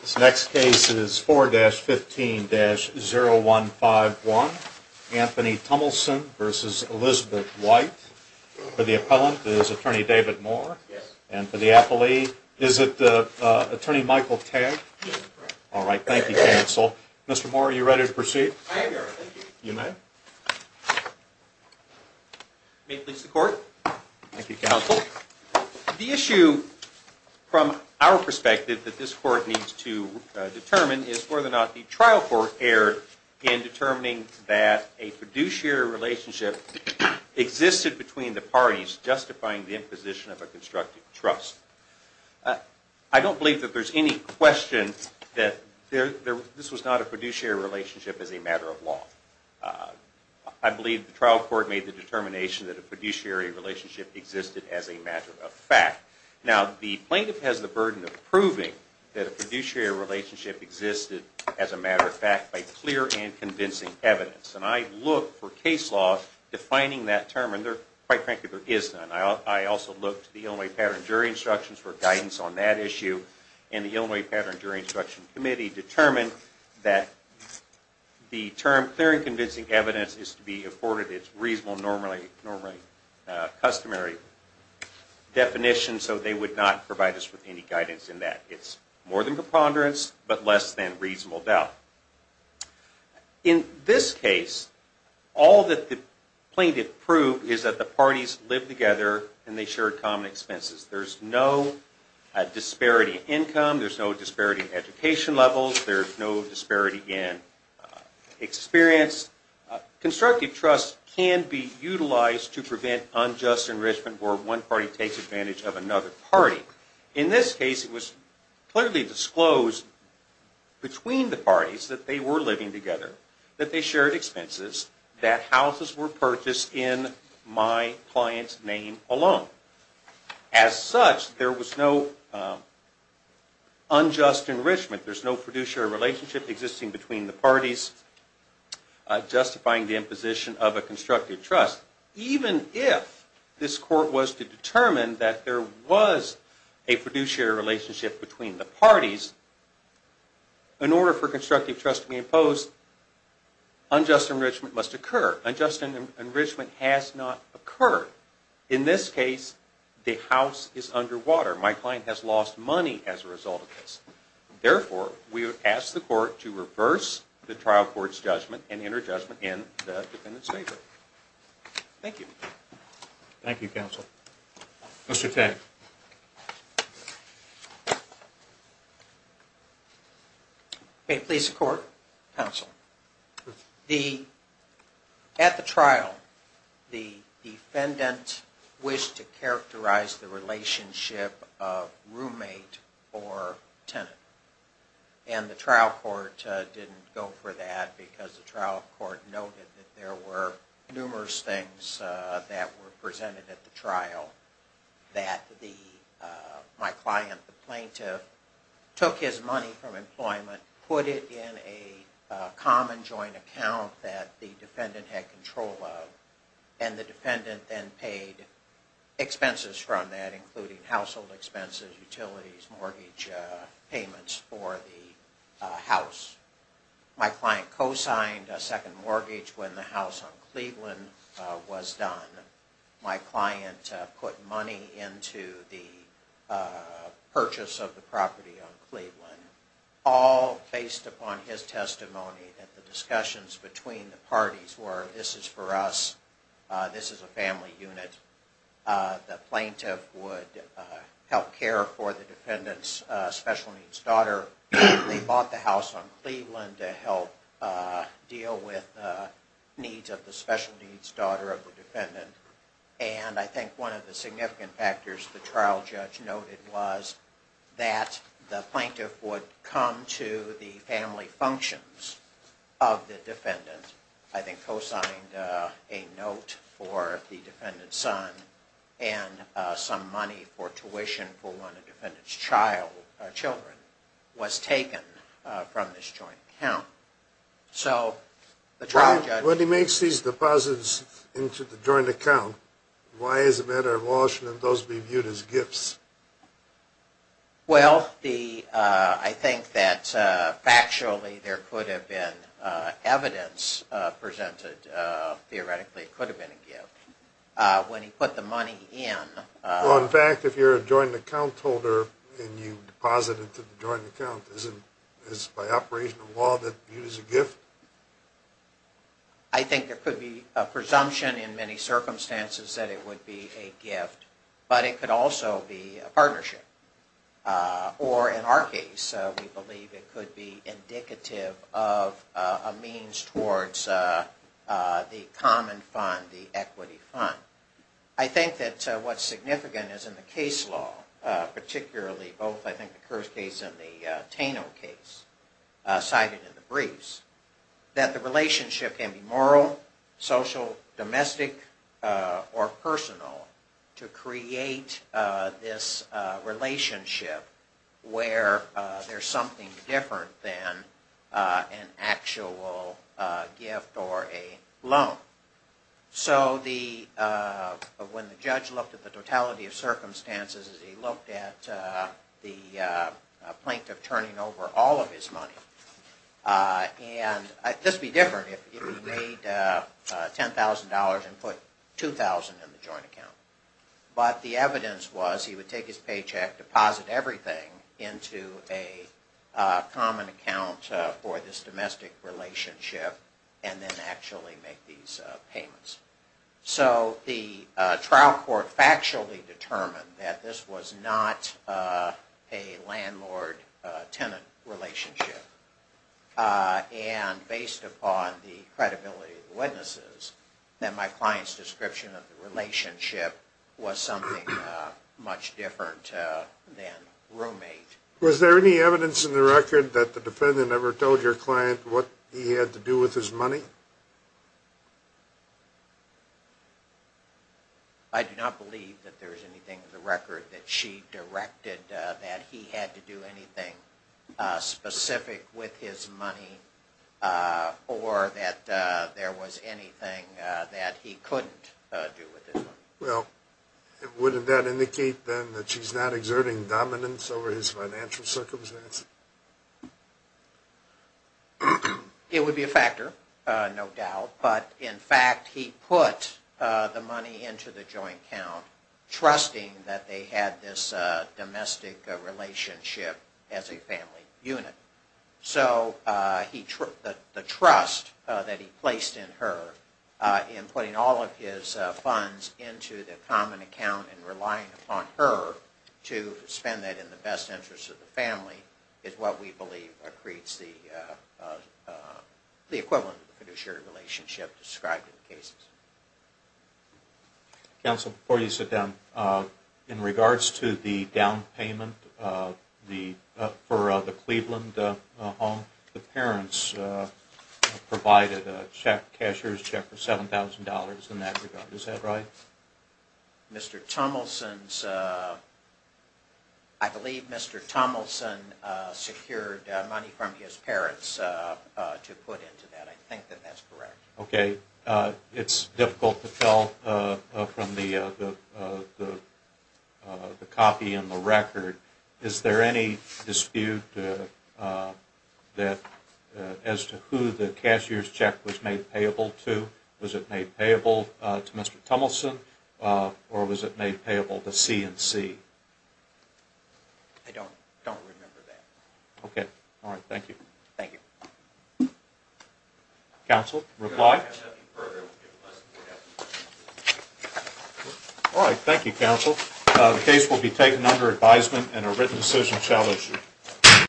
This next case is 4-15-0151, Anthony Tummelson v. Elizabeth White. For the appellant is Attorney David Moore. And for the appellee, is it Attorney Michael Tagg? Yes, correct. All right, thank you, counsel. Mr. Moore, are you ready to proceed? I am, Your Honor. Thank you. You may. May it please the Court. Thank you, counsel. The issue, from our perspective, that this Court needs to determine is whether or not the trial court erred in determining that a fiduciary relationship existed between the parties justifying the imposition of a constructive trust. I don't believe that there's any question that this was not a fiduciary relationship as a matter of law. I believe the trial court made the determination that a fiduciary relationship existed as a matter of fact. Now, the plaintiff has the burden of proving that a fiduciary relationship existed as a matter of fact by clear and convincing evidence. And I looked for case law defining that term, and quite frankly, there is none. I also looked to the Illinois Pattern Jury Instructions for guidance on that issue, and the Illinois Pattern Jury Instruction Committee determined that the term was not a reasonable, normally customary definition, so they would not provide us with any guidance in that. It's more than preponderance, but less than reasonable doubt. In this case, all that the plaintiff proved is that the parties lived together and they shared common expenses. There's no disparity in income. There's no disparity in education levels. There's no disparity in experience. Constructive trust can be utilized to prevent unjust enrichment where one party takes advantage of another party. In this case, it was clearly disclosed between the parties that they were living together, that they shared expenses, that houses were purchased in my client's name alone. As such, there was no unjust enrichment. There's no fiduciary relationship existing between the parties justifying the imposition of a constructive trust. Even if this court was to determine that there was a fiduciary relationship between the parties, in order for constructive trust to be imposed, unjust enrichment must occur. Unjust enrichment has not occurred. In this case, the house is underwater. My client has lost money as a result of this. Therefore, we would ask the court to reverse the trial court's judgment and enter judgment in the defendant's favor. Thank you. Thank you, counsel. Mr. Tagg. May it please the court, counsel. At the trial, the defendant wished to characterize the relationship of roommate or tenant. And the trial court didn't go for that because the trial court noted that there were numerous things that were presented at the trial that my client, the plaintiff, took his money from employment, put it in a common joint account that the defendant had control of, and the defendant then paid expenses from that, including household expenses, utilities, mortgage payments for the house. My client co-signed a second mortgage when the house on Cleveland was done. My client put money into the purchase of the property on Cleveland, all based upon his testimony that the discussions between the parties were this is for us, this is a family unit. The plaintiff would help care for the defendant's special needs daughter. They bought the house on Cleveland to help deal with the needs of the special needs daughter of the defendant. And I think one of the significant factors the trial judge noted was that the plaintiff would come to the family functions of the trial judge to find a note for the defendant's son and some money for tuition for one of the defendant's children was taken from this joint account. So the trial judge... When he makes these deposits into the joint account, why is it a matter of caution that those be viewed as gifts? Well the, I think that factually there could have been evidence presented to the trial judge that theoretically it could have been a gift. When he put the money in... Well in fact if you're a joint account holder and you deposit it to the joint account, is it by operation of law that viewed as a gift? I think there could be a presumption in many circumstances that it would be a gift, but it could also be a partnership. Or in our case we believe it could be indicative of a means towards the common fund, the equity fund. I think that what's significant is in the case law, particularly both I think the Kearse case and the Taino case cited in the briefs, that the relationship can be moral, social, domestic, or personal to create this relationship where there's something different than an actual gift or a loan. So when the judge looked at the totality of circumstances, he looked at the plaintiff turning over all of his money. And this would be different if he made $10,000 and put $2,000 in the joint account. But the evidence was he would take his paycheck, deposit everything into a common account for this domestic relationship, and then actually make these payments. So the trial court factually determined that this was not a landlord-tenant relationship. And based upon the credibility of the witnesses, that my client's description of the relationship was something much different than roommate. Was there any evidence in the record that the defendant ever told your client what he had to do with his money? I do not believe that there's anything in the record that she directed that he had to do anything specific with his money, or that there was anything that he couldn't do with his money. Well, wouldn't that indicate then that she's not exerting dominance over his financial circumstances? It would be a factor, no doubt. But in fact, he put the money into the joint account, trusting that they had this domestic relationship as a family unit. So the trust that he placed in her, in putting all of his funds into the common account and relying upon her to spend that in the best interest of the family, is what we believe creates the equivalent of the fiduciary relationship described in the cases. Counsel, before you sit down, in regards to the down payment for the Cleveland home, the parents provided a cashier's check for $7,000 in that regard. Is that right? I believe Mr. Tomelson secured money from his parents to put into that. I think that that's correct. Okay. It's difficult to tell from the copy in the record. Is there any dispute as to who the cashier's check was made payable to? Was it made payable to Mr. Tomelson, or was it made payable to C&C? I don't remember that. Okay. All right. Thank you. Thank you. Counsel, reply? All right. Thank you, Counsel. The case will be taken under advisement and a written decision shall issue.